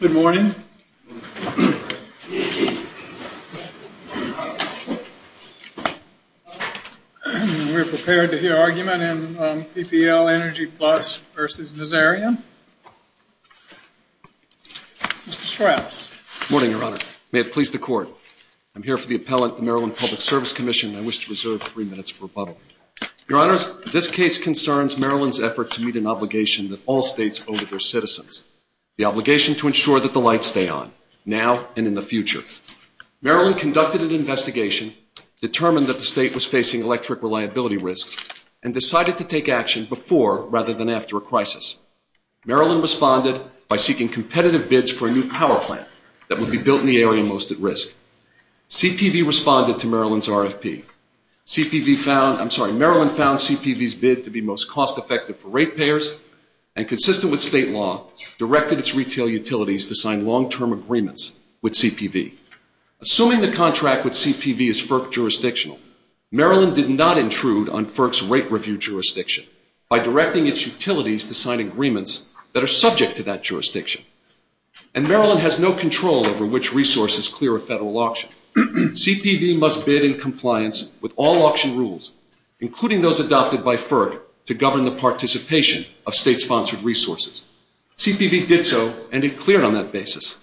Good morning. We're prepared to hear argument in PPL EnergyPlus v. Nazarian. Mr. Strauss. Good morning, Your Honor. May it please the Court. I'm here for the appellant, the Maryland Public Service Commission, and I wish to reserve three minutes for rebuttal. Your Honor, this case concerns Maryland's effort to meet an obligation that all states owe to their citizens, the obligation to ensure that the lights stay on, now and in the future. Maryland conducted an investigation, determined that the state was facing electric reliability risks, and decided to take action before rather than after a crisis. Maryland responded by seeking competitive bids for a new power plant that would be built in the area most at risk. CPV responded to Maryland's RFP. Maryland found CPV's bid to be most cost-effective for ratepayers and, consistent with state law, directed its retail utilities to sign long-term agreements with CPV. Assuming the contract with CPV is FERC jurisdictional, Maryland did not intrude on FERC's rate review jurisdiction by directing its utilities to sign agreements that are subject to that jurisdiction. And Maryland has no control over which resources clear a federal auction. CPV must bid in compliance with all auction rules, including those adopted by FERC, to govern the participation of state-sponsored resources. CPV did so, and it cleared on that basis.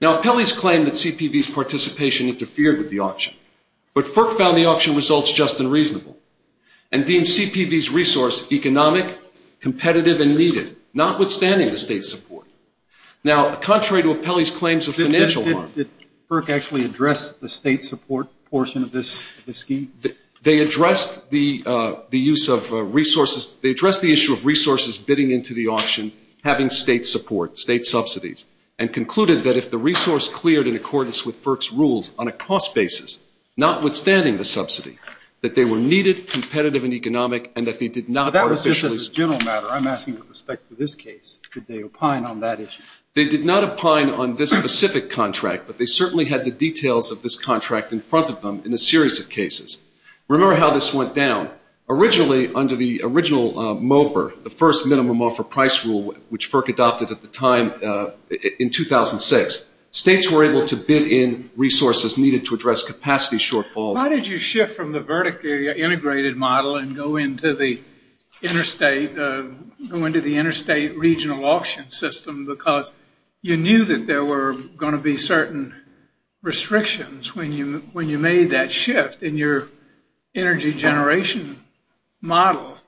Now, Apelli's claim that CPV's participation interfered with the auction, but FERC found the auction results just and reasonable and deemed CPV's resource economic, competitive, and needed, notwithstanding the state's support. Now, contrary to Apelli's claims of financial harm Did FERC actually address the state support portion of this scheme? They addressed the use of resources. They addressed the issue of resources bidding into the auction having state support, state subsidies, and concluded that if the resource cleared in accordance with FERC's rules on a cost basis, notwithstanding the subsidy, that they were needed, competitive, and economic, and that they did not artificially That was just a general matter. I'm asking with respect to this case. Did they opine on that issue? They did not opine on this specific contract, but they certainly had the details of this contract in front of them in a series of cases. Remember how this went down. Originally, under the original MOPR, the first Minimum Offer Price Rule, which FERC adopted at the time in 2006, states were able to bid in resources needed to address capacity shortfalls. Why did you shift from the verdict area integrated model and go into the interstate regional auction system because you knew that there were going to be certain restrictions when you made that shift in your energy generation model?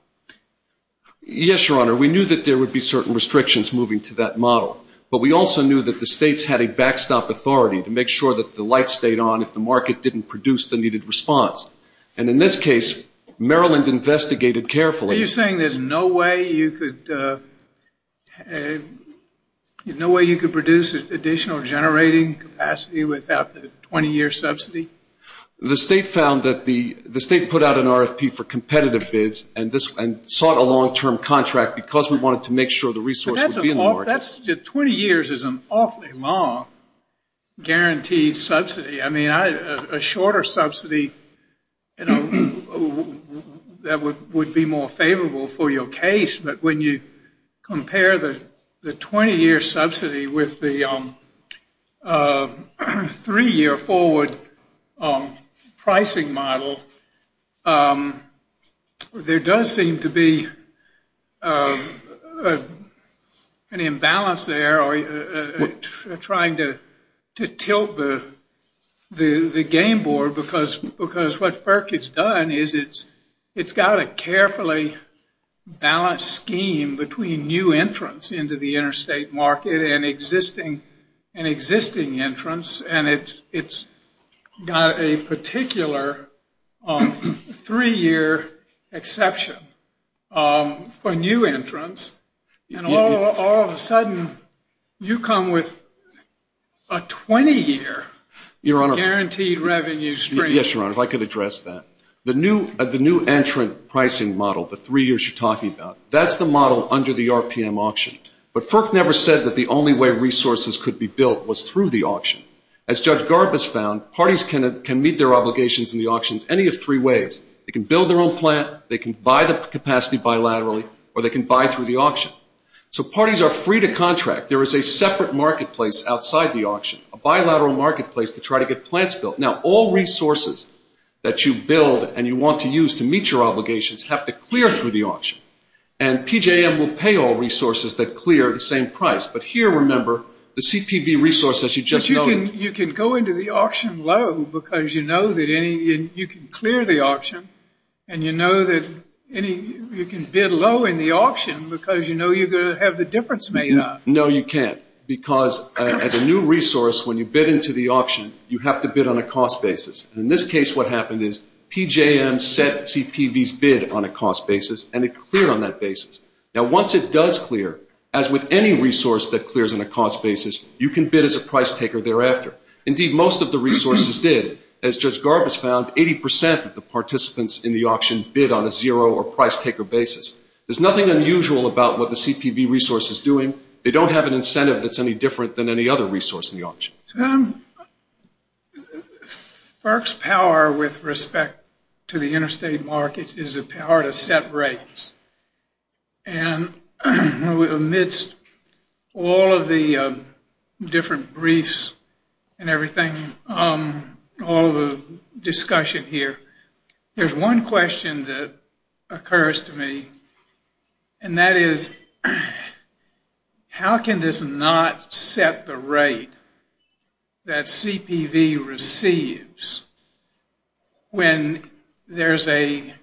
Yes, Your Honor. We knew that there would be certain restrictions moving to that model, but we also knew that the states had a backstop authority to make sure that the light stayed on if the market didn't produce the needed response. And in this case, Maryland investigated carefully. Are you saying there's no way you could produce additional generating capacity without the 20-year subsidy? The state put out an RFP for competitive bids and sought a long-term contract because we wanted to make sure the resource would be in the market. 20 years is an awfully long guaranteed subsidy. A shorter subsidy would be more favorable for your case, but when you compare the 20-year subsidy with the three-year forward pricing model, there does seem to be an imbalance there trying to tilt the game board because what FERC has done is it's got a carefully balanced scheme between new entrants into the interstate market and existing entrants, and it's got a particular three-year exception for new entrants, and all of a sudden you come with a 20-year guaranteed revenue stream. Yes, Your Honor, if I could address that. The new entrant pricing model, the three years you're talking about, that's the model under the RPM auction. But FERC never said that the only way resources could be built was through the auction. As Judge Garbus found, parties can meet their obligations in the auctions any of three ways. They can build their own plant, they can buy the capacity bilaterally, or they can buy through the auction. So parties are free to contract. There is a separate marketplace outside the auction, a bilateral marketplace to try to get plants built. Now, all resources that you build and you want to use to meet your obligations have to clear through the auction, and PJM will pay all resources that clear the same price. But here, remember, the CPV resource, as you just noted. But you can go into the auction low because you know that you can clear the auction, and you know that you can bid low in the auction because you know you're going to have the difference made up. No, you can't, because as a new resource, when you bid into the auction, you have to bid on a cost basis. In this case, what happened is PJM set CPV's bid on a cost basis, and it cleared on that basis. Now, once it does clear, as with any resource that clears on a cost basis, you can bid as a price taker thereafter. Indeed, most of the resources did. As Judge Garbus found, 80% of the participants in the auction bid on a zero or price taker basis. There's nothing unusual about what the CPV resource is doing. They don't have an incentive that's any different than any other resource in the auction. So FERC's power with respect to the interstate market is the power to set rates. And amidst all of the different briefs and everything, all the discussion here, there's one question that occurs to me, and that is, how can this not set the rate that CPV receives when there's a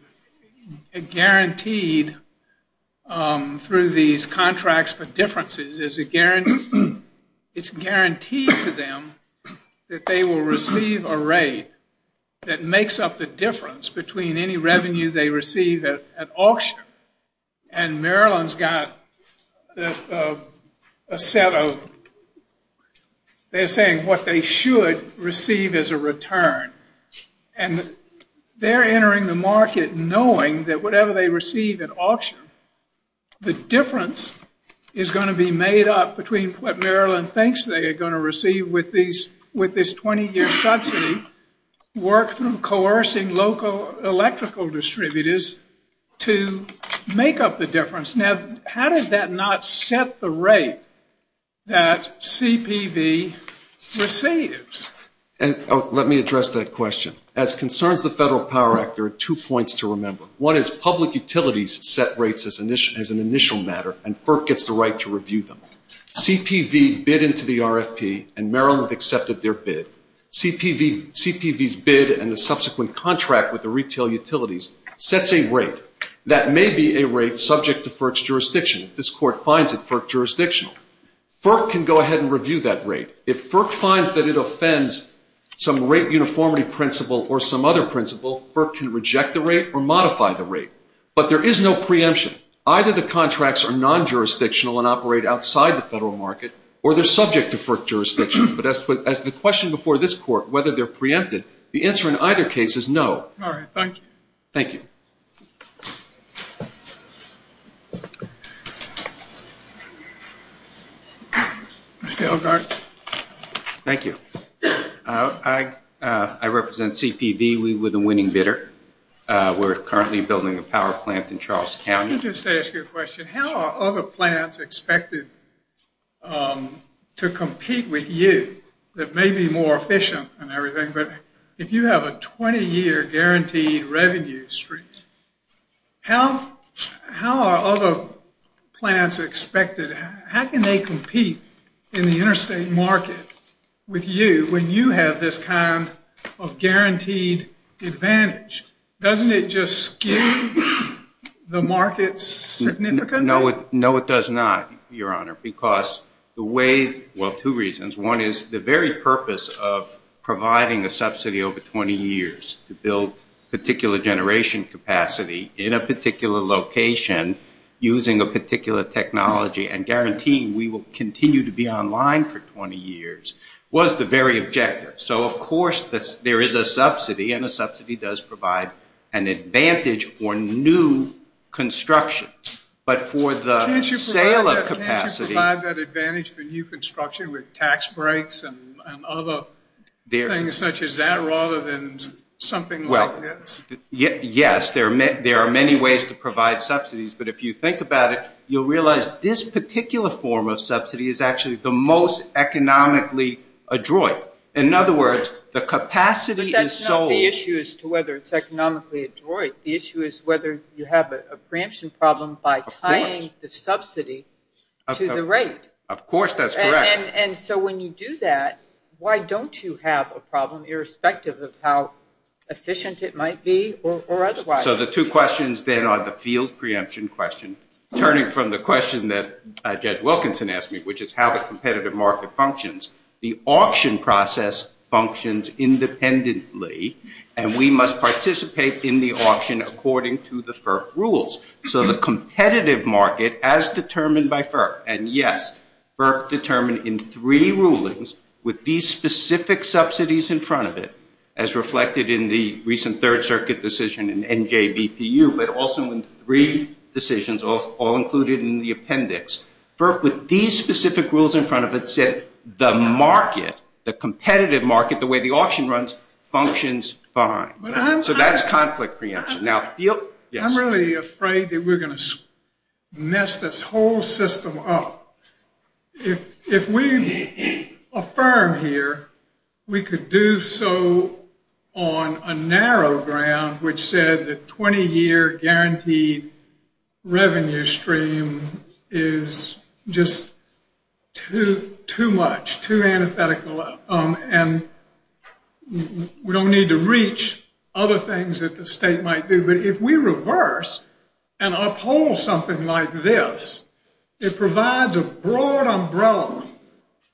guaranteed, through these contracts for differences, it's guaranteed to them that they will receive a rate that makes up the difference between any revenue they receive at auction, and Maryland's got a set of, they're saying what they should receive as a return. And they're entering the market knowing that whatever they receive at auction, the difference is going to be made up between what Maryland thinks they are going to receive with this 20-year subsidy, work through coercing local electrical distributors to make up the difference. Now, how does that not set the rate that CPV receives? Let me address that question. As concerns the Federal Power Act, there are two points to remember. One is public utilities set rates as an initial matter, and FERC gets the right to review them. CPV bid into the RFP, and Maryland accepted their bid. CPV's bid and the subsequent contract with the retail utilities sets a rate that may be a rate subject to FERC's jurisdiction. This court finds it FERC jurisdictional. FERC can go ahead and review that rate. If FERC finds that it offends some rate uniformity principle or some other principle, FERC can reject the rate or modify the rate. But there is no preemption. Either the contracts are non-jurisdictional and operate outside the Federal market, or they're subject to FERC jurisdiction. But as to the question before this court, whether they're preempted, the answer in either case is no. All right. Thank you. Thank you. Mr. Elgart. Thank you. I represent CPV. We were the winning bidder. We're currently building a power plant in Charles County. Let me just ask you a question. How are other plants expected to compete with you that may be more efficient and everything? But if you have a 20-year guaranteed revenue stream, how are other plants expected? How can they compete in the interstate market with you when you have this kind of guaranteed advantage? Doesn't it just skew the market significantly? No, it does not, Your Honor, because the way – well, two reasons. One is the very purpose of providing a subsidy over 20 years to build particular generation capacity in a particular location using a particular technology and guaranteeing we will continue to be online for 20 years was the very objective. So, of course, there is a subsidy, and a subsidy does provide an advantage for new construction. But for the sale of capacity – and other things such as that rather than something like this. Yes, there are many ways to provide subsidies, but if you think about it, you'll realize this particular form of subsidy is actually the most economically adroit. In other words, the capacity is sold. That's not the issue as to whether it's economically adroit. The issue is whether you have a preemption problem by tying the subsidy to the rate. Of course that's correct. And so when you do that, why don't you have a problem irrespective of how efficient it might be or otherwise? So the two questions then are the field preemption question. Turning from the question that Judge Wilkinson asked me, which is how the competitive market functions, the auction process functions independently, and we must participate in the auction according to the FERC rules. So the competitive market, as determined by FERC, and yes, FERC determined in three rulings, with these specific subsidies in front of it, as reflected in the recent Third Circuit decision in NJBPU, but also in three decisions all included in the appendix. FERC, with these specific rules in front of it, said the market, the competitive market, the way the auction runs, functions fine. So that's conflict preemption. I'm really afraid that we're going to mess this whole system up. If we affirm here we could do so on a narrow ground, which said the 20-year guaranteed revenue stream is just too much, too antithetical, and we don't need to reach other things that the state might do. But if we reverse and uphold something like this, it provides a broad umbrella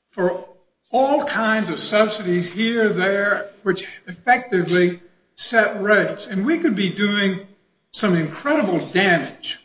for all kinds of subsidies here, there, which effectively set rates. And we could be doing some incredible damage.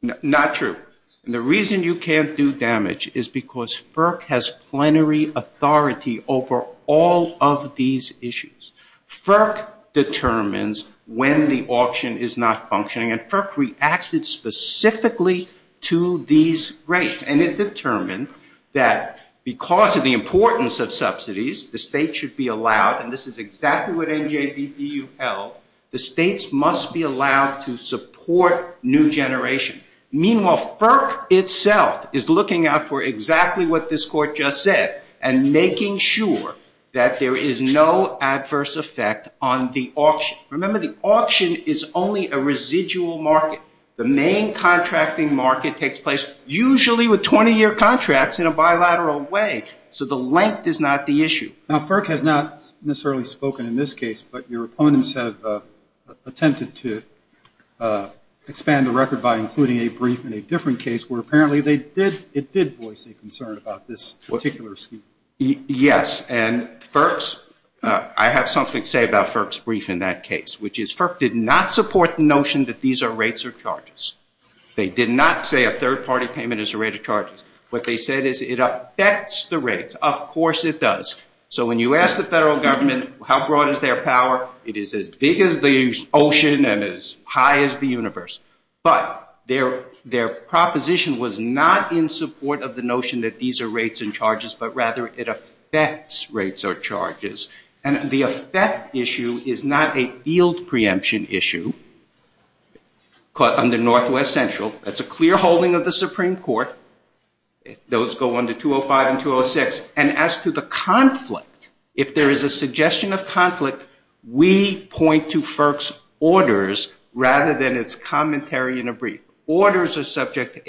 Not true. And the reason you can't do damage is because FERC has plenary authority over all of these issues. FERC determines when the auction is not functioning. And FERC reacted specifically to these rates. And it determined that because of the importance of subsidies, the state should be allowed, and this is exactly what NJBPU held, the states must be allowed to support new generation. Meanwhile, FERC itself is looking out for exactly what this court just said and making sure that there is no adverse effect on the auction. Remember, the auction is only a residual market. The main contracting market takes place usually with 20-year contracts in a bilateral way. So the length is not the issue. Now, FERC has not necessarily spoken in this case, but your opponents have attempted to expand the record by including a brief in a different case where apparently it did voice a concern about this particular scheme. Yes. And I have something to say about FERC's brief in that case, which is FERC did not support the notion that these are rates or charges. They did not say a third-party payment is a rate of charges. What they said is it affects the rates. Of course it does. So when you ask the federal government how broad is their power, it is as big as the ocean and as high as the universe. But their proposition was not in support of the notion that these are rates and charges, but rather it affects rates or charges. And the effect issue is not a yield preemption issue under Northwest Central. That's a clear holding of the Supreme Court. Those go under 205 and 206. And as to the conflict, if there is a suggestion of conflict, we point to FERC's orders rather than its commentary in a brief. Orders are subject to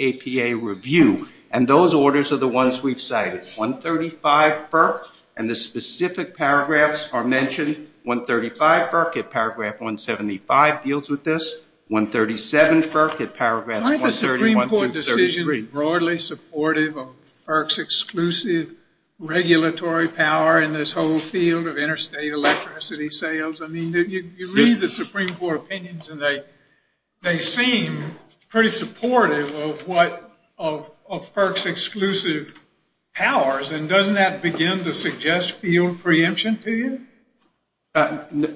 APA review, and those orders are the ones we've cited. 135 FERC, and the specific paragraphs are mentioned. 135 FERC at paragraph 175 deals with this. 137 FERC at paragraphs 130, 133. Are those decisions broadly supportive of FERC's exclusive regulatory power in this whole field of interstate electricity sales? I mean, you read the Supreme Court opinions, and they seem pretty supportive of what of FERC's exclusive powers. And doesn't that begin to suggest field preemption to you?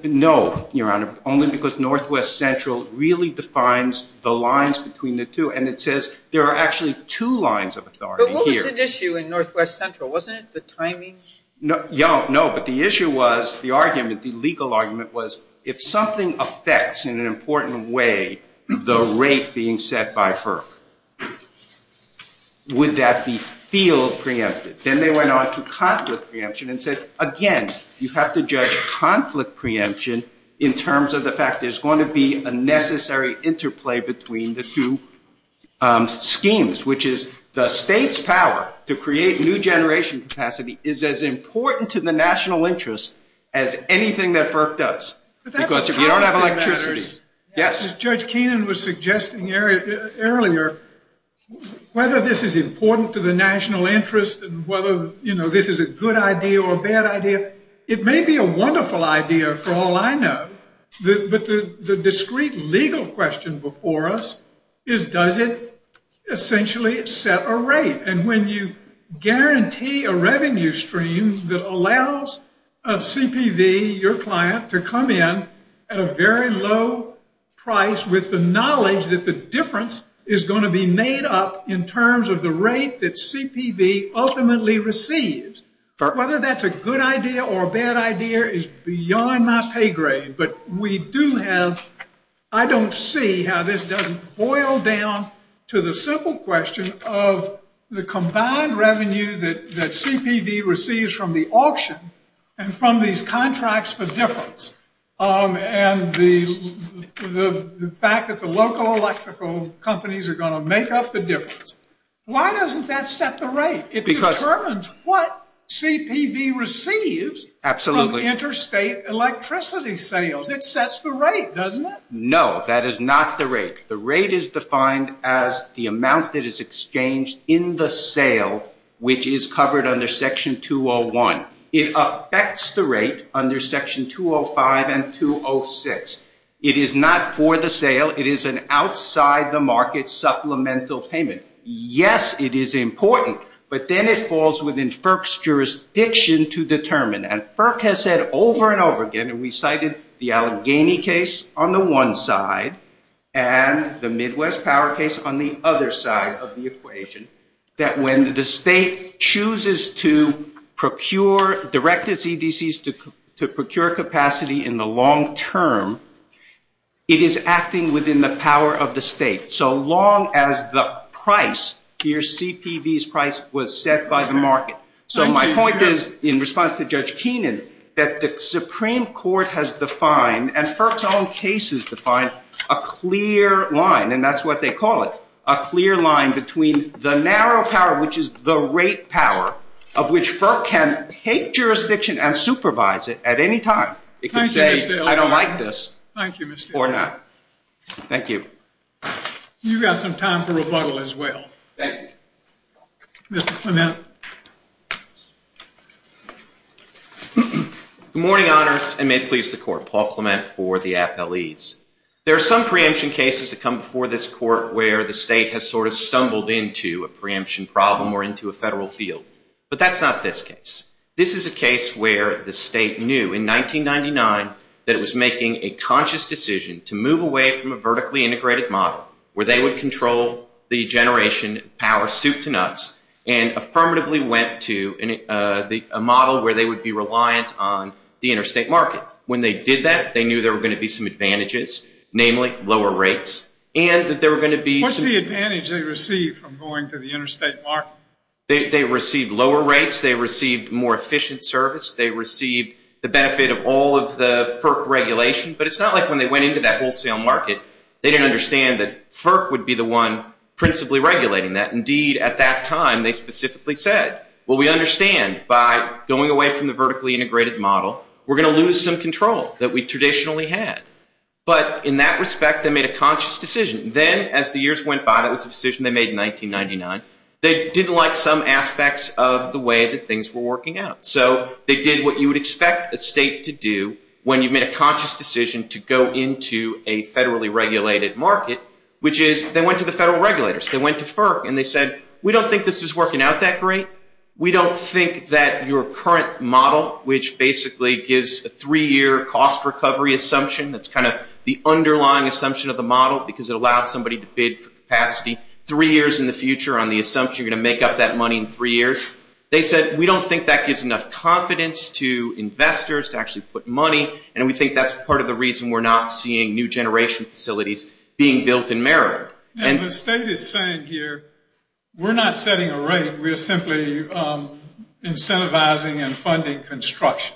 No, Your Honor, only because Northwest Central really defines the lines between the two. And it says there are actually two lines of authority here. But what was at issue in Northwest Central? Wasn't it the timing? No, but the issue was, the argument, the legal argument was, if something affects in an important way the rate being set by FERC, would that be field preempted? Then they went on to conflict preemption and said, again, you have to judge conflict preemption in terms of the fact there's going to be a necessary interplay between the two schemes, which is the state's power to create new generation capacity is as important to the national interest as anything that FERC does. Because if you don't have electricity. As Judge Keenan was suggesting earlier, whether this is important to the national interest and whether this is a good idea or a bad idea, it may be a wonderful idea for all I know. But the discreet legal question before us is, does it essentially set a rate? And when you guarantee a revenue stream that allows a CPV, your client, to come in at a very low price with the knowledge that the difference is going to be made up in terms of the rate that CPV ultimately receives, whether that's a good idea or a bad idea is beyond my pay grade. But we do have, I don't see how this doesn't boil down to the simple question of the combined revenue that CPV receives from the auction and from these contracts for difference. And the fact that the local electrical companies are going to make up the difference. Why doesn't that set the rate? It determines what CPV receives from interstate electricity sales. It sets the rate, doesn't it? No, that is not the rate. The rate is defined as the amount that is exchanged in the sale, which is covered under section 201. It affects the rate under section 205 and 206. It is not for the sale. It is an outside the market supplemental payment. Yes, it is important. But then it falls within FERC's jurisdiction to determine. And FERC has said over and over again, and we cited the Allegheny case on the one side and the Midwest Power case on the other side of the equation, that when the state chooses to procure, direct its EDCs to procure capacity in the long term, it is acting within the power of the state. So long as the price, your CPV's price, was set by the market. So my point is, in response to Judge Keenan, that the Supreme Court has defined and FERC's own cases define a clear line, and that's what they call it, a clear line between the narrow power, which is the rate power, of which FERC can take jurisdiction and supervise it at any time. It could say, I don't like this, or not. Thank you. You've got some time for rebuttal as well. Thank you. Mr. Clement. Good morning, honors, and may it please the court. Paul Clement for the appellees. There are some preemption cases that come before this court where the state has sort of stumbled into a preemption problem or into a federal field. But that's not this case. This is a case where the state knew in 1999 that it was making a conscious decision to move away from a vertically integrated model, where they would control the generation power soup to nuts, and affirmatively went to a model where they would be reliant on the interstate market. When they did that, they knew there were going to be some advantages, namely lower rates, and that there were going to be some – What's the advantage they received from going to the interstate market? They received lower rates. They received more efficient service. They received the benefit of all of the FERC regulation. But it's not like when they went into that wholesale market, they didn't understand that FERC would be the one principally regulating that. Indeed, at that time, they specifically said, well, we understand by going away from the vertically integrated model, we're going to lose some control that we traditionally had. But in that respect, they made a conscious decision. Then, as the years went by, that was a decision they made in 1999, they didn't like some aspects of the way that things were working out. So they did what you would expect a state to do when you've made a decision to go into a federally regulated market, which is they went to the federal regulators. They went to FERC, and they said, we don't think this is working out that great. We don't think that your current model, which basically gives a three-year cost recovery assumption, that's kind of the underlying assumption of the model, because it allows somebody to bid for capacity three years in the future on the assumption you're going to make up that money in three years. They said, we don't think that gives enough confidence to investors to actually put money, and we think that's part of the reason we're not seeing new generation facilities being built in Maryland. And the state is saying here, we're not setting a rate, we're simply incentivizing and funding construction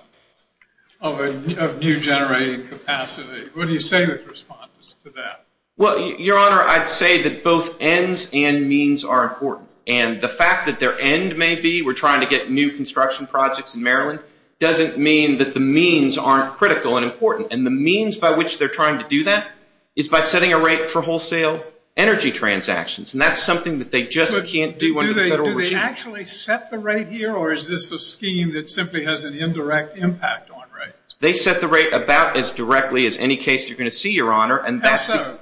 of new generating capacity. What do you say to the respondents to that? Well, Your Honor, I'd say that both ends and means are important. And the fact that their end may be, we're trying to get new construction projects in Maryland, doesn't mean that the means aren't critical and important. And the means by which they're trying to do that is by setting a rate for wholesale energy transactions. And that's something that they just can't do under the federal regime. Do they actually set the rate here, or is this a scheme that simply has an indirect impact on rates? They set the rate about as directly as any case you're going to see, Your Honor. How so?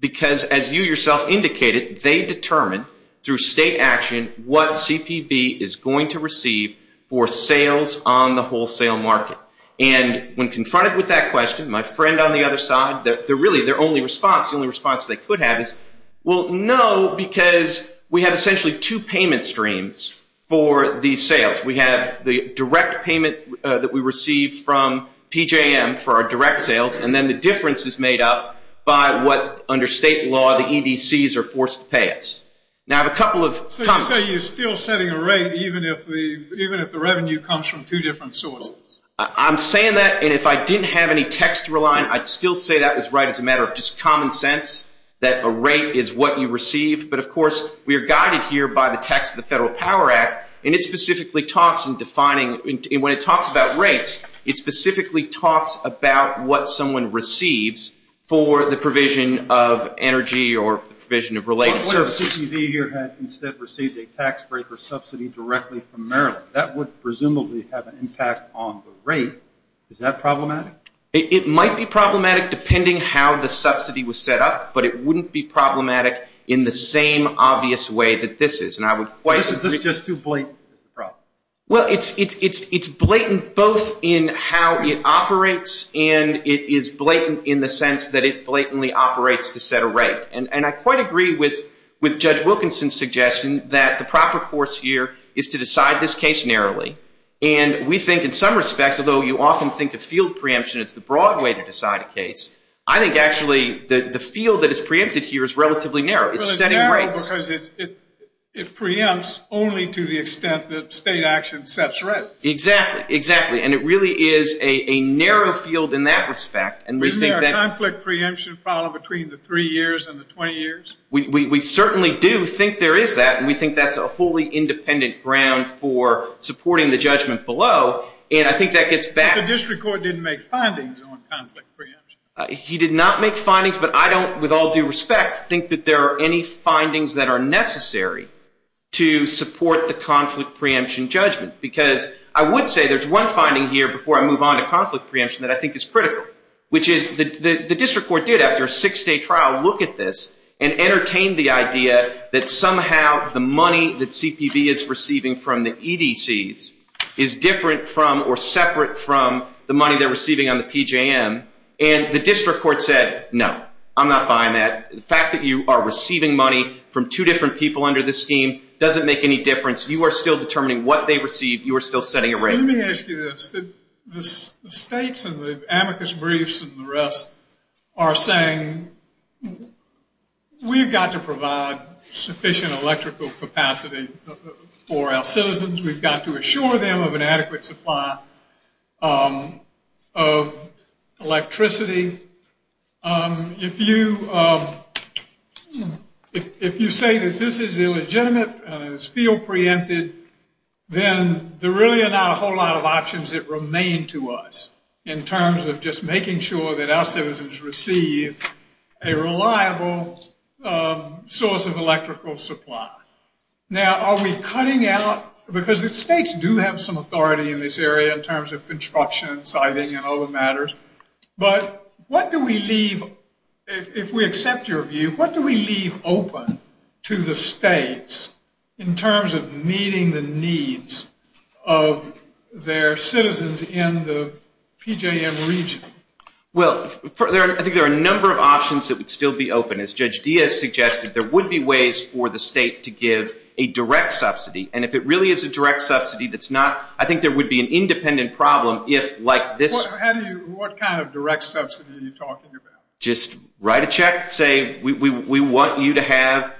Because, as you yourself indicated, they determine through state action what CPV is going to receive for sales on the wholesale market. And when confronted with that question, my friend on the other side, really their only response, the only response they could have is, well, no, because we have essentially two payment streams for these sales. We have the direct payment that we receive from PJM for our direct sales, and then the difference is made up by what, under state law, the EDCs are forced to pay us. Now, I have a couple of comments. So you're saying you're still setting a rate even if the revenue comes from two different sources? I'm saying that, and if I didn't have any text to rely on, I'd still say that was right as a matter of just common sense, that a rate is what you receive. But, of course, we are guided here by the text of the Federal Power Act, and it specifically talks in defining, and when it talks about rates, it specifically talks about what someone receives for the provision of energy or the provision of related services. But what if CCD here had instead received a tax break or subsidy directly from Maryland? That would presumably have an impact on the rate. Is that problematic? It might be problematic depending how the subsidy was set up, but it wouldn't be problematic in the same obvious way that this is. And I would quite agree. This is just too blatant as a problem. Well, it's blatant both in how it operates, and it is blatant in the sense that it blatantly operates to set a rate. And I quite agree with Judge Wilkinson's suggestion that the proper course here is to decide this case narrowly. And we think in some respects, although you often think of field preemption as the broad way to decide a case, I think actually the field that is preempted here is relatively narrow. It's setting rates. Well, it's narrow because it preempts only to the extent that state action sets rates. Exactly, exactly. And it really is a narrow field in that respect. Isn't there a conflict preemption problem between the three years and the 20 years? We certainly do think there is that, and we think that's a wholly independent ground for supporting the judgment below. But the district court didn't make findings on conflict preemption. He did not make findings, but I don't, with all due respect, think that there are any findings that are necessary to support the conflict preemption judgment. Because I would say there's one finding here before I move on to conflict preemption that I think is critical, which is the district court did, after a six-day trial, look at this and entertain the idea that somehow the money that CPB is receiving from the EDCs is different from or separate from the money they're receiving on the PJM. And the district court said, no, I'm not buying that. The fact that you are receiving money from two different people under this scheme doesn't make any difference. You are still determining what they receive. You are still setting a rate. Let me ask you this. The states and the amicus briefs and the rest are saying we've got to provide sufficient electrical capacity for our citizens. We've got to assure them of an adequate supply of electricity. If you say that this is illegitimate and it's field preempted, then there really are not a whole lot of options that remain to us in terms of just making sure that our citizens receive a reliable source of electrical supply. Now, are we cutting out? Because the states do have some authority in this area in terms of construction, siding, and other matters. But what do we leave, if we accept your view, what do we leave open to the states in terms of meeting the needs of their citizens in the PJM region? Well, I think there are a number of options that would still be open. As Judge Diaz suggested, there would be ways for the state to give a direct subsidy. And if it really is a direct subsidy, I think there would be an independent problem if, like this. What kind of direct subsidy are you talking about? Just write a check, say we want you to have,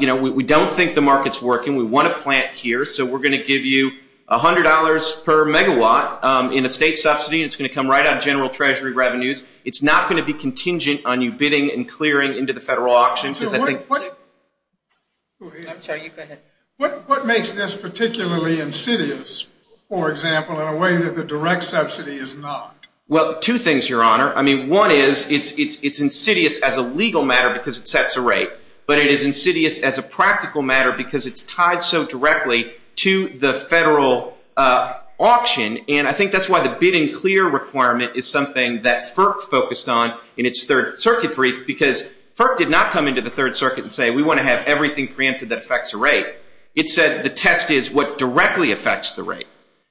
you know, we don't think the market's working. We want to plant here, so we're going to give you $100 per megawatt in a state subsidy. It's going to come right out of general treasury revenues. It's not going to be contingent on you bidding and clearing into the federal auctions. I'm sorry, you go ahead. What makes this particularly insidious, for example, in a way that the direct subsidy is not? Well, two things, Your Honor. I mean, one is it's insidious as a legal matter because it sets a rate. But it is insidious as a practical matter because it's tied so directly to the federal auction. And I think that's why the bidding clear requirement is something that FERC focused on in its Third Circuit brief. Because FERC did not come into the Third Circuit and say we want to have everything preempted that affects the rate. It said the test is what directly affects the rate.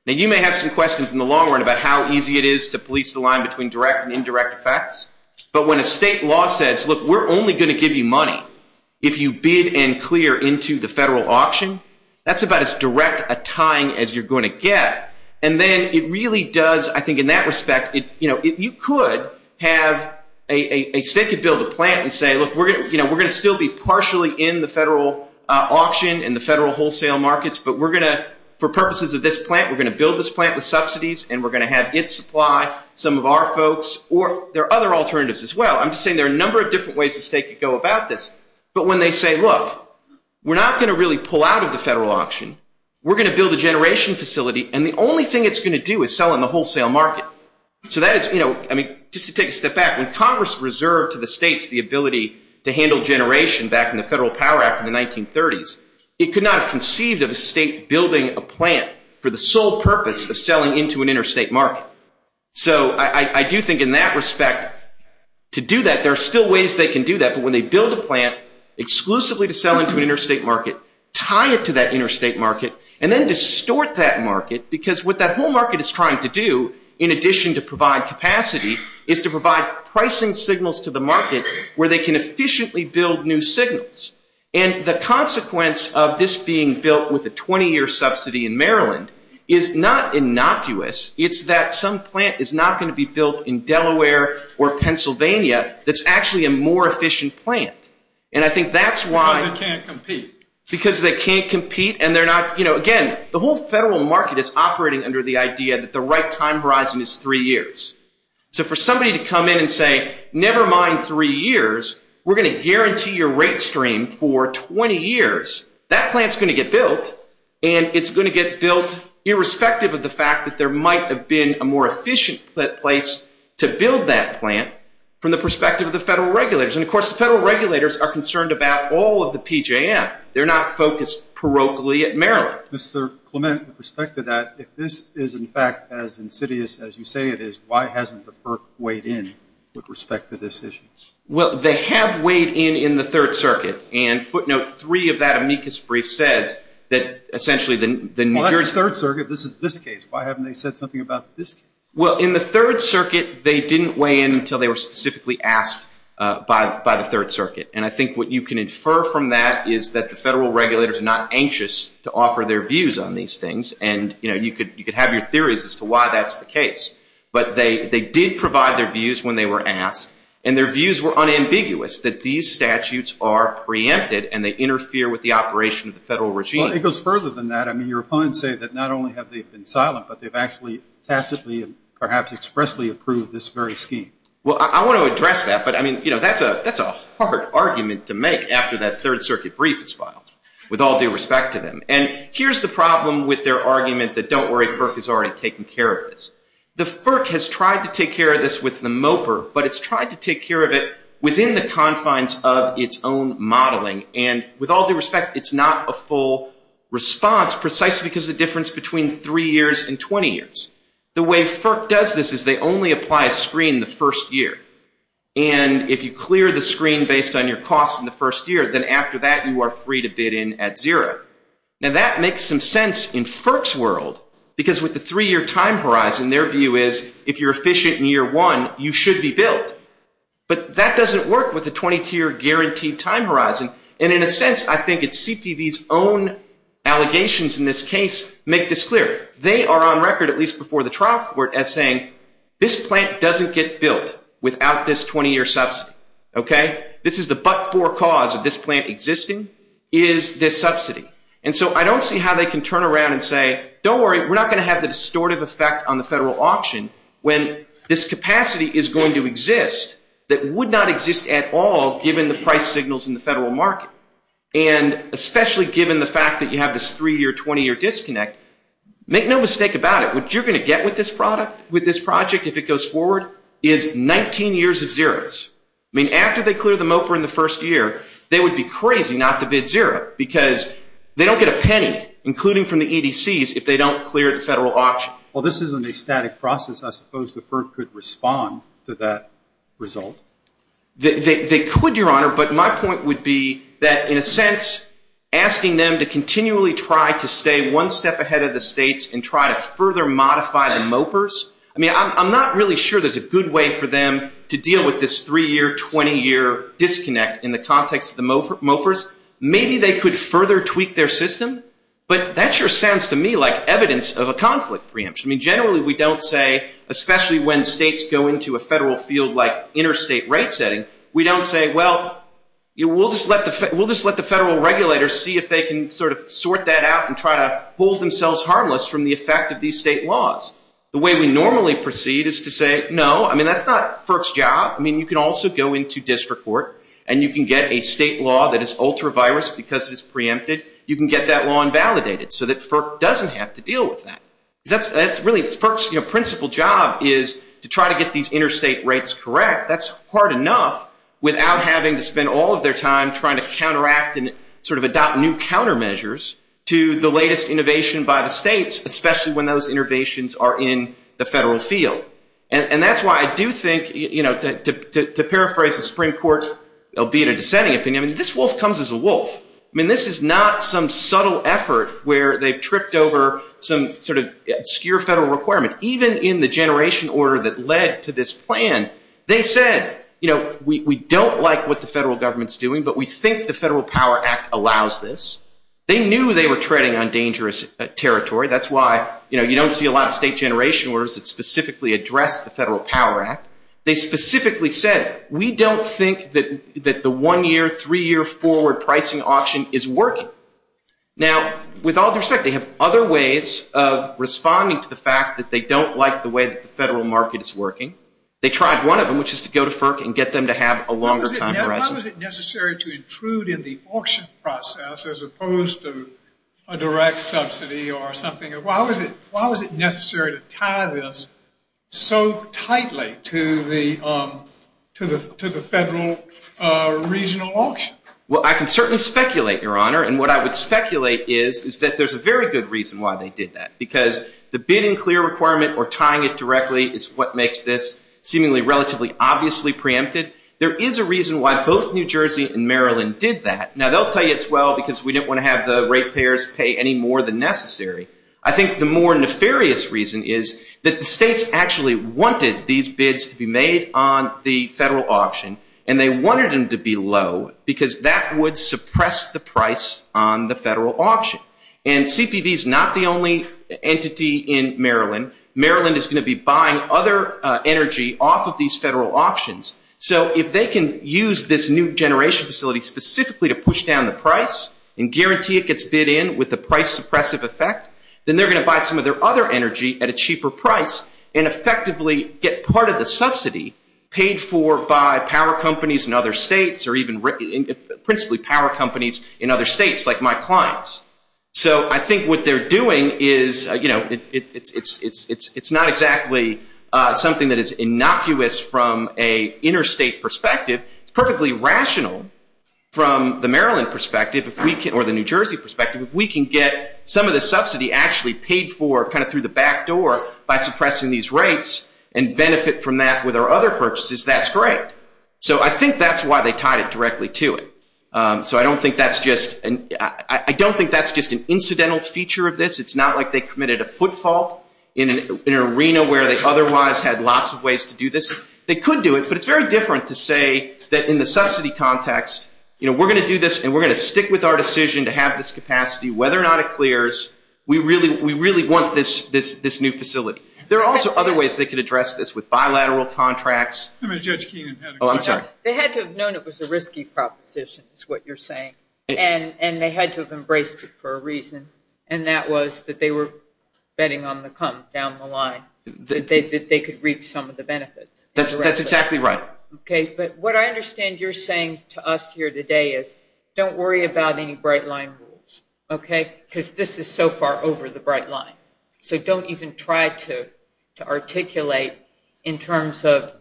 Now, you may have some questions in the long run about how easy it is to police the line between direct and indirect effects. But when a state law says, look, we're only going to give you money if you bid and clear into the federal auction, that's about as direct a tying as you're going to get. And then it really does, I think in that respect, you could have a state could build a plant and say, look, we're going to still be partially in the federal auction and the federal wholesale markets, but we're going to, for purposes of this plant, we're going to build this plant with subsidies and we're going to have it supply some of our folks or there are other alternatives as well. I'm just saying there are a number of different ways the state could go about this. But when they say, look, we're not going to really pull out of the federal auction. We're going to build a generation facility. And the only thing it's going to do is sell in the wholesale market. So that is, you know, I mean, just to take a step back, when Congress reserved to the states the ability to handle generation back in the Federal Power Act in the 1930s, it could not have conceived of a state building a plant for the sole purpose of selling into an interstate market. So I do think in that respect, to do that, there are still ways they can do that. But when they build a plant exclusively to sell into an interstate market, tie it to that interstate market, and then distort that market, because what that whole market is trying to do, in addition to provide capacity, is to provide pricing signals to the market where they can efficiently build new signals. And the consequence of this being built with a 20-year subsidy in Maryland is not innocuous. It's that some plant is not going to be built in Delaware or Pennsylvania that's actually a more efficient plant. And I think that's why. Because they can't compete. Because they can't compete, and they're not, you know, again, the whole federal market is operating under the idea that the right time horizon is three years. So for somebody to come in and say, never mind three years, we're going to guarantee your rate stream for 20 years, that plant's going to get built, and it's going to get built irrespective of the fact that there might have been a more efficient place to build that plant from the perspective of the federal regulators. And, of course, the federal regulators are concerned about all of the PJM. They're not focused parochially at Maryland. All right. Mr. Clement, with respect to that, if this is, in fact, as insidious as you say it is, why hasn't the PERC weighed in with respect to this issue? Well, they have weighed in in the Third Circuit. And footnote three of that amicus brief says that essentially the New Jersey. Well, that's the Third Circuit. This is this case. Why haven't they said something about this case? Well, in the Third Circuit, they didn't weigh in until they were specifically asked by the Third Circuit. And I think what you can infer from that is that the federal regulators are not anxious to offer their views on these things, and, you know, you could have your theories as to why that's the case. But they did provide their views when they were asked, and their views were unambiguous, that these statutes are preempted and they interfere with the operation of the federal regime. Well, it goes further than that. I mean, your opponents say that not only have they been silent, but they've actually tacitly and perhaps expressly approved this very scheme. Well, I want to address that. But, I mean, you know, that's a hard argument to make after that Third Circuit brief is filed, with all due respect to them. And here's the problem with their argument that don't worry, FERC has already taken care of this. The FERC has tried to take care of this with the MOPR, but it's tried to take care of it within the confines of its own modeling. And with all due respect, it's not a full response precisely because of the difference between three years and 20 years. The way FERC does this is they only apply a screen the first year. And if you clear the screen based on your costs in the first year, then after that you are free to bid in at zero. Now, that makes some sense in FERC's world because with the three-year time horizon, their view is if you're efficient in year one, you should be billed. But that doesn't work with the 20-year guaranteed time horizon. And in a sense, I think it's CPB's own allegations in this case make this clear. They are on record at least before the trial court as saying this plant doesn't get built without this 20-year subsidy. This is the but-for cause of this plant existing is this subsidy. And so I don't see how they can turn around and say, don't worry, we're not going to have the distortive effect on the federal auction when this capacity is going to exist that would not exist at all given the price signals in the federal market. And especially given the fact that you have this three-year, 20-year disconnect, make no mistake about it. What you're going to get with this project if it goes forward is 19 years of zeros. I mean, after they clear the MOPR in the first year, they would be crazy not to bid zero because they don't get a penny, including from the EDCs, if they don't clear the federal auction. Well, this isn't a static process. I suppose the FERC could respond to that result. They could, Your Honor, but my point would be that in a sense, asking them to continually try to stay one step ahead of the states and try to further modify the MOPRs, I mean, I'm not really sure there's a good way for them to deal with this three-year, 20-year disconnect in the context of the MOPRs. Maybe they could further tweak their system, but that sure sounds to me like evidence of a conflict preemption. I mean, generally we don't say, especially when states go into a federal field like interstate rate setting, we don't say, well, we'll just let the federal regulators see if they can sort of sort that out and try to hold themselves harmless from the effect of these state laws. The way we normally proceed is to say, no, I mean, that's not FERC's job. I mean, you can also go into district court and you can get a state law that is ultra-virus because it's preempted. You can get that law invalidated so that FERC doesn't have to deal with that. That's really FERC's principal job is to try to get these interstate rates correct. That's hard enough without having to spend all of their time trying to counteract and sort of adopt new countermeasures to the latest innovation by the states, especially when those innovations are in the federal field. And that's why I do think, you know, to paraphrase the Supreme Court, albeit a dissenting opinion, this wolf comes as a wolf. I mean, this is not some subtle effort where they've tripped over some sort of obscure federal requirement. Even in the generation order that led to this plan, they said, you know, we don't like what the federal government's doing, but we think the Federal Power Act allows this. They knew they were treading on dangerous territory. That's why, you know, you don't see a lot of state generation orders that specifically address the Federal Power Act. They specifically said, we don't think that the one-year, three-year forward pricing auction is working. Now, with all due respect, they have other ways of responding to the fact that they don't like the way that the federal market is working. They tried one of them, which is to go to FERC and get them to have a longer time horizon. How is it necessary to intrude in the auction process as opposed to a direct subsidy or something? Why was it necessary to tie this so tightly to the federal regional auction? Well, I can certainly speculate, Your Honor, and what I would speculate is that there's a very good reason why they did that, because the bidding clear requirement or tying it directly is what makes this seemingly relatively obviously preempted. There is a reason why both New Jersey and Maryland did that. Now, they'll tell you it's well because we didn't want to have the rate payers pay any more than necessary. I think the more nefarious reason is that the states actually wanted these bids to be made on the federal auction, and they wanted them to be low because that would suppress the price on the federal auction. And CPV is not the only entity in Maryland. Maryland is going to be buying other energy off of these federal auctions. So if they can use this new generation facility specifically to push down the price and guarantee it gets bid in with a price-suppressive effect, then they're going to buy some of their other energy at a cheaper price and effectively get part of the subsidy paid for by power companies in other states or even principally power companies in other states like my clients. So I think what they're doing is, you know, it's not exactly something that is innocuous from an interstate perspective. It's perfectly rational from the Maryland perspective or the New Jersey perspective if we can get some of the subsidy actually paid for kind of through the back door by suppressing these rates and benefit from that with our other purchases, that's great. So I think that's why they tied it directly to it. So I don't think that's just an incidental feature of this. It's not like they committed a footfault in an arena where they otherwise had lots of ways to do this. They could do it, but it's very different to say that in the subsidy context, you know, we're going to do this and we're going to stick with our decision to have this capacity. Whether or not it clears, we really want this new facility. There are also other ways they could address this with bilateral contracts. I'm going to judge Keenan. Oh, I'm sorry. They had to have known it was a risky proposition is what you're saying, and they had to have embraced it for a reason, and that was that they were betting on the come down the line, that they could reap some of the benefits. That's exactly right. Okay. But what I understand you're saying to us here today is don't worry about any bright line rules, okay, because this is so far over the bright line. So don't even try to articulate in terms of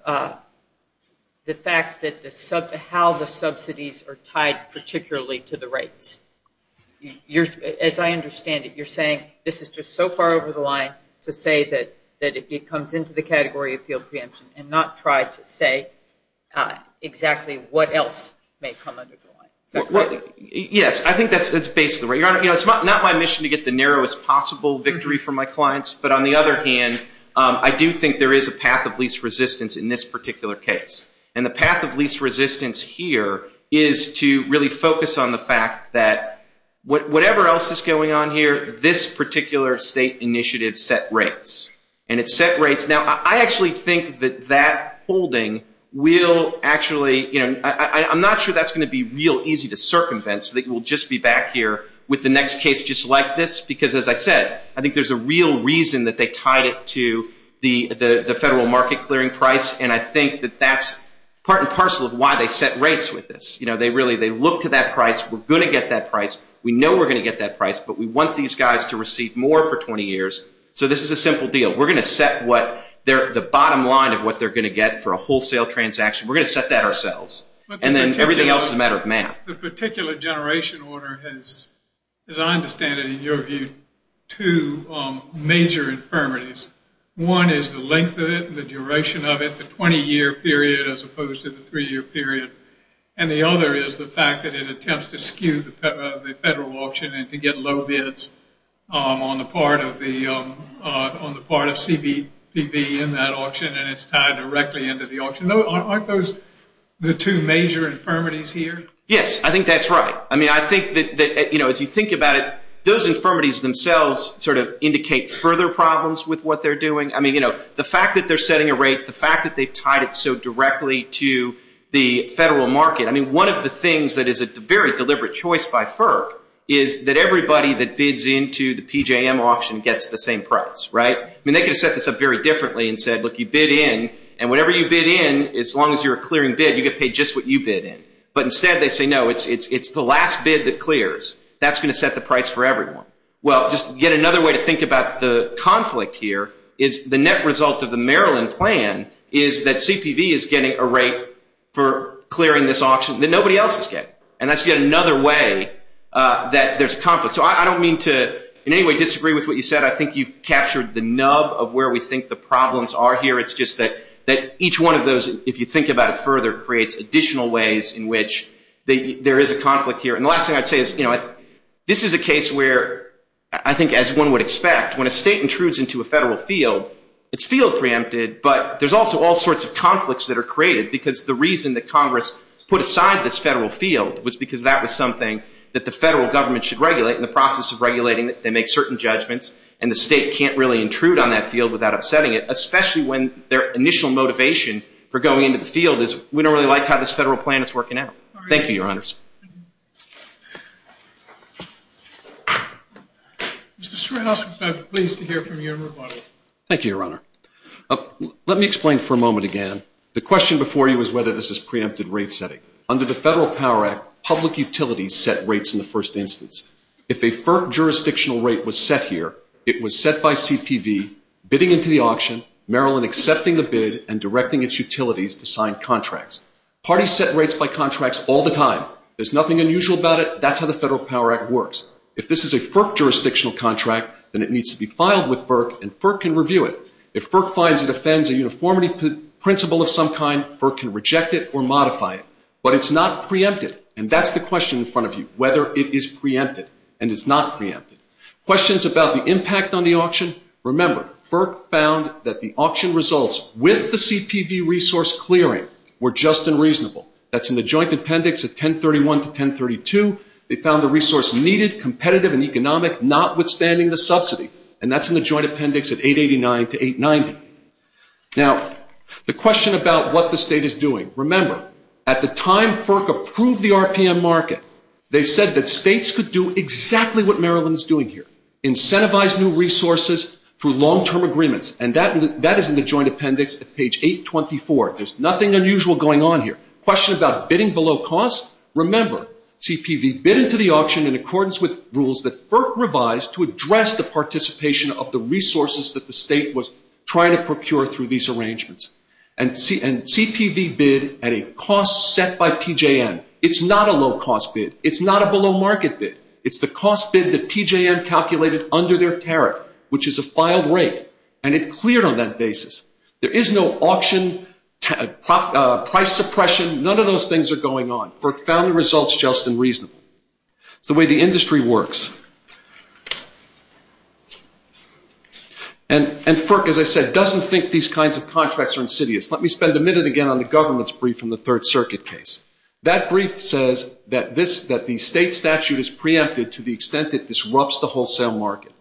the fact that how the subsidies are tied particularly to the rates. As I understand it, you're saying this is just so far over the line to say that it comes into the category of field preemption and not try to say exactly what else may come under the line. Yes. I think that's basically right. You know, it's not my mission to get the narrowest possible victory for my clients, but on the other hand, I do think there is a path of least resistance in this particular case, and the path of least resistance here is to really focus on the fact that whatever else is going on here, this particular state initiative set rates, and it set rates. Now, I actually think that that holding will actually, you know, I'm not sure that's going to be real easy to circumvent so that we'll just be back here with the next case just like this because, as I said, I think there's a real reason that they tied it to the federal market clearing price, and I think that that's part and parcel of why they set rates with this. You know, they really look to that price. We're going to get that price. We know we're going to get that price, but we want these guys to receive more for 20 years, so this is a simple deal. We're going to set the bottom line of what they're going to get for a wholesale transaction. We're going to set that ourselves, and then everything else is a matter of math. The particular generation order has, as I understand it, in your view, two major infirmities. One is the length of it and the duration of it, the 20-year period as opposed to the three-year period, and the other is the fact that it attempts to skew the federal auction and to get low bids on the part of CBPV in that auction, and it's tied directly into the auction. Aren't those the two major infirmities here? Yes, I think that's right. I mean, I think that, you know, as you think about it, those infirmities themselves sort of indicate further problems with what they're doing. I mean, you know, the fact that they're setting a rate, the fact that they've tied it so directly to the federal market, I mean, one of the things that is a very deliberate choice by FERC is that everybody that bids into the PJM auction gets the same price, right? I mean, they could have set this up very differently and said, look, you bid in, and whatever you bid in, as long as you're a clearing bid, you get paid just what you bid in. But instead they say, no, it's the last bid that clears. That's going to set the price for everyone. Well, just yet another way to think about the conflict here is the net result of the Maryland plan is that CPV is getting a rate for clearing this auction that nobody else is getting, and that's yet another way that there's conflict. So I don't mean to in any way disagree with what you said. I think you've captured the nub of where we think the problems are here. It's just that each one of those, if you think about it further, creates additional ways in which there is a conflict here. And the last thing I'd say is, you know, this is a case where I think as one would expect, when a state intrudes into a federal field, it's field preempted, but there's also all sorts of conflicts that are created because the reason that Congress put aside this federal field was because that was something that the federal government should regulate in the process of regulating that they make certain judgments, and the state can't really intrude on that field without upsetting it, especially when their initial motivation for going into the field is, we don't really like how this federal plan is working out. Thank you, Your Honors. Mr. Stratos, we're pleased to hear from you. Thank you, Your Honor. Let me explain for a moment again. The question before you is whether this is preempted rate setting. Under the Federal Power Act, public utilities set rates in the first instance. If a FERC jurisdictional rate was set here, it was set by CPV, bidding into the auction, Maryland accepting the bid, and directing its utilities to sign contracts. Parties set rates by contracts all the time. There's nothing unusual about it. That's how the Federal Power Act works. If this is a FERC jurisdictional contract, then it needs to be filed with FERC, and FERC can review it. If FERC finds it offends a uniformity principle of some kind, FERC can reject it or modify it. But it's not preempted, and that's the question in front of you, whether it is preempted and it's not preempted. Questions about the impact on the auction? Remember, FERC found that the auction results with the CPV resource clearing were just and reasonable. That's in the joint appendix of 1031 to 1032. They found the resource needed, competitive and economic, notwithstanding the subsidy, and that's in the joint appendix of 889 to 890. Now, the question about what the state is doing. Remember, at the time FERC approved the RPM market, they said that states could do exactly what Maryland is doing here, incentivize new resources through long-term agreements, and that is in the joint appendix at page 824. There's nothing unusual going on here. Question about bidding below cost? Remember, CPV bid into the auction in accordance with rules that FERC revised to address the participation of the resources that the state was trying to procure through these arrangements. And CPV bid at a cost set by PJM. It's not a low-cost bid. It's not a below-market bid. It's the cost bid that PJM calculated under their tariff, which is a filed rate, and it cleared on that basis. There is no auction price suppression. None of those things are going on. FERC found the results just and reasonable. It's the way the industry works. And FERC, as I said, doesn't think these kinds of contracts are insidious. Let me spend a minute again on the government's brief from the Third Circuit case. That brief says that the state statute is preempted to the extent it disrupts the wholesale market,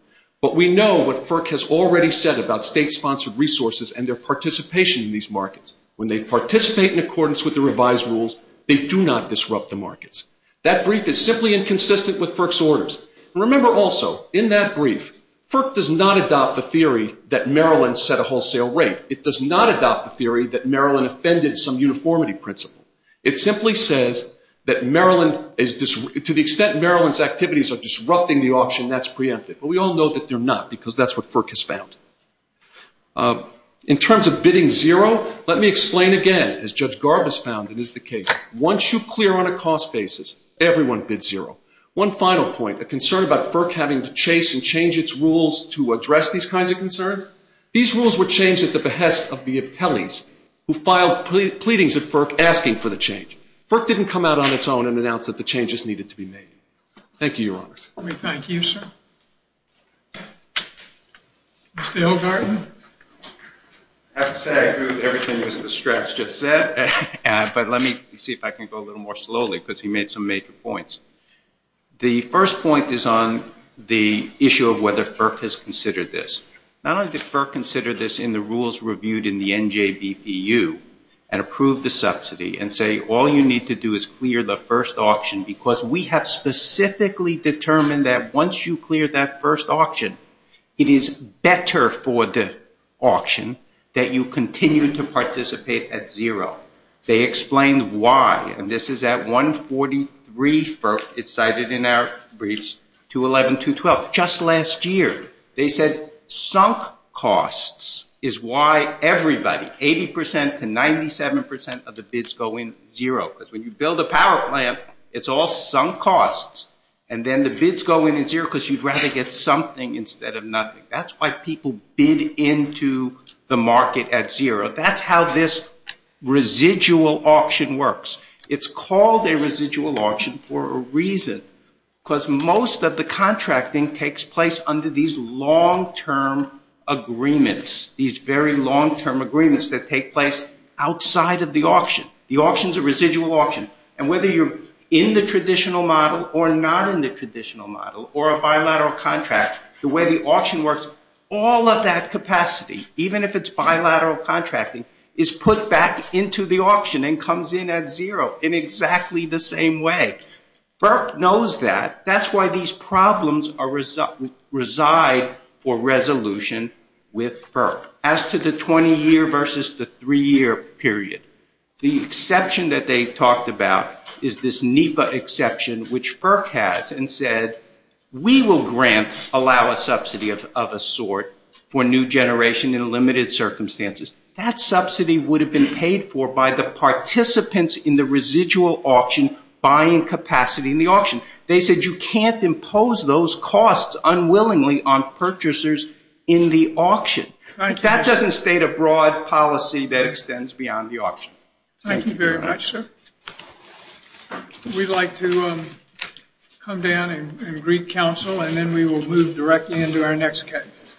but we know what FERC has already said about state-sponsored resources and their participation in these markets. When they participate in accordance with the revised rules, they do not disrupt the markets. That brief is simply inconsistent with FERC's orders. Remember also, in that brief, FERC does not adopt the theory that Maryland set a wholesale rate. It does not adopt the theory that Maryland offended some uniformity principle. It simply says that to the extent Maryland's activities are disrupting the auction, that's preempted. But we all know that they're not, because that's what FERC has found. In terms of bidding zero, let me explain again, as Judge Garbus found it is the case. Once you clear on a cost basis, everyone bids zero. One final point, a concern about FERC having to chase and change its rules to address these kinds of concerns, these rules were changed at the behest of the appellees who filed pleadings at FERC asking for the change. FERC didn't come out on its own and announce that the changes needed to be made. Thank you, Your Honors. We thank you, sir. Mr. O'Garden. I have to say I agree with everything Mr. Strass just said, but let me see if I can go a little more slowly because he made some major points. The first point is on the issue of whether FERC has considered this. Not only did FERC consider this in the rules reviewed in the NJBPU and approved the subsidy and say all you need to do is clear the first auction because we have specifically determined that once you clear that first auction, it is better for the auction that you continue to participate at zero. They explained why, and this is at 143, it's cited in our briefs, 211, 212. Just last year, they said sunk costs is why everybody, 80% to 97% of the bids go in zero because when you build a power plant, it's all sunk costs, and then the bids go in at zero because you'd rather get something instead of nothing. That's why people bid into the market at zero. That's how this residual auction works. It's called a residual auction for a reason because most of the contracting takes place under these long-term agreements, these very long-term agreements that take place outside of the auction. The auction is a residual auction, and whether you're in the traditional model or not in the traditional model or a bilateral contract, the way the auction works, all of that capacity, even if it's bilateral contracting, is put back into the auction and comes in at zero in exactly the same way. FERC knows that. That's why these problems reside for resolution with FERC. As to the 20-year versus the 3-year period, the exception that they talked about is this NEPA exception, which FERC has and said, we will grant, allow a subsidy of a sort for new generation in limited circumstances. That subsidy would have been paid for by the participants in the residual auction buying capacity in the auction. They said you can't impose those costs unwillingly on purchasers in the auction. That doesn't state a broad policy that extends beyond the auction. Thank you very much, sir. We'd like to come down and greet counsel, and then we will move directly into our next case.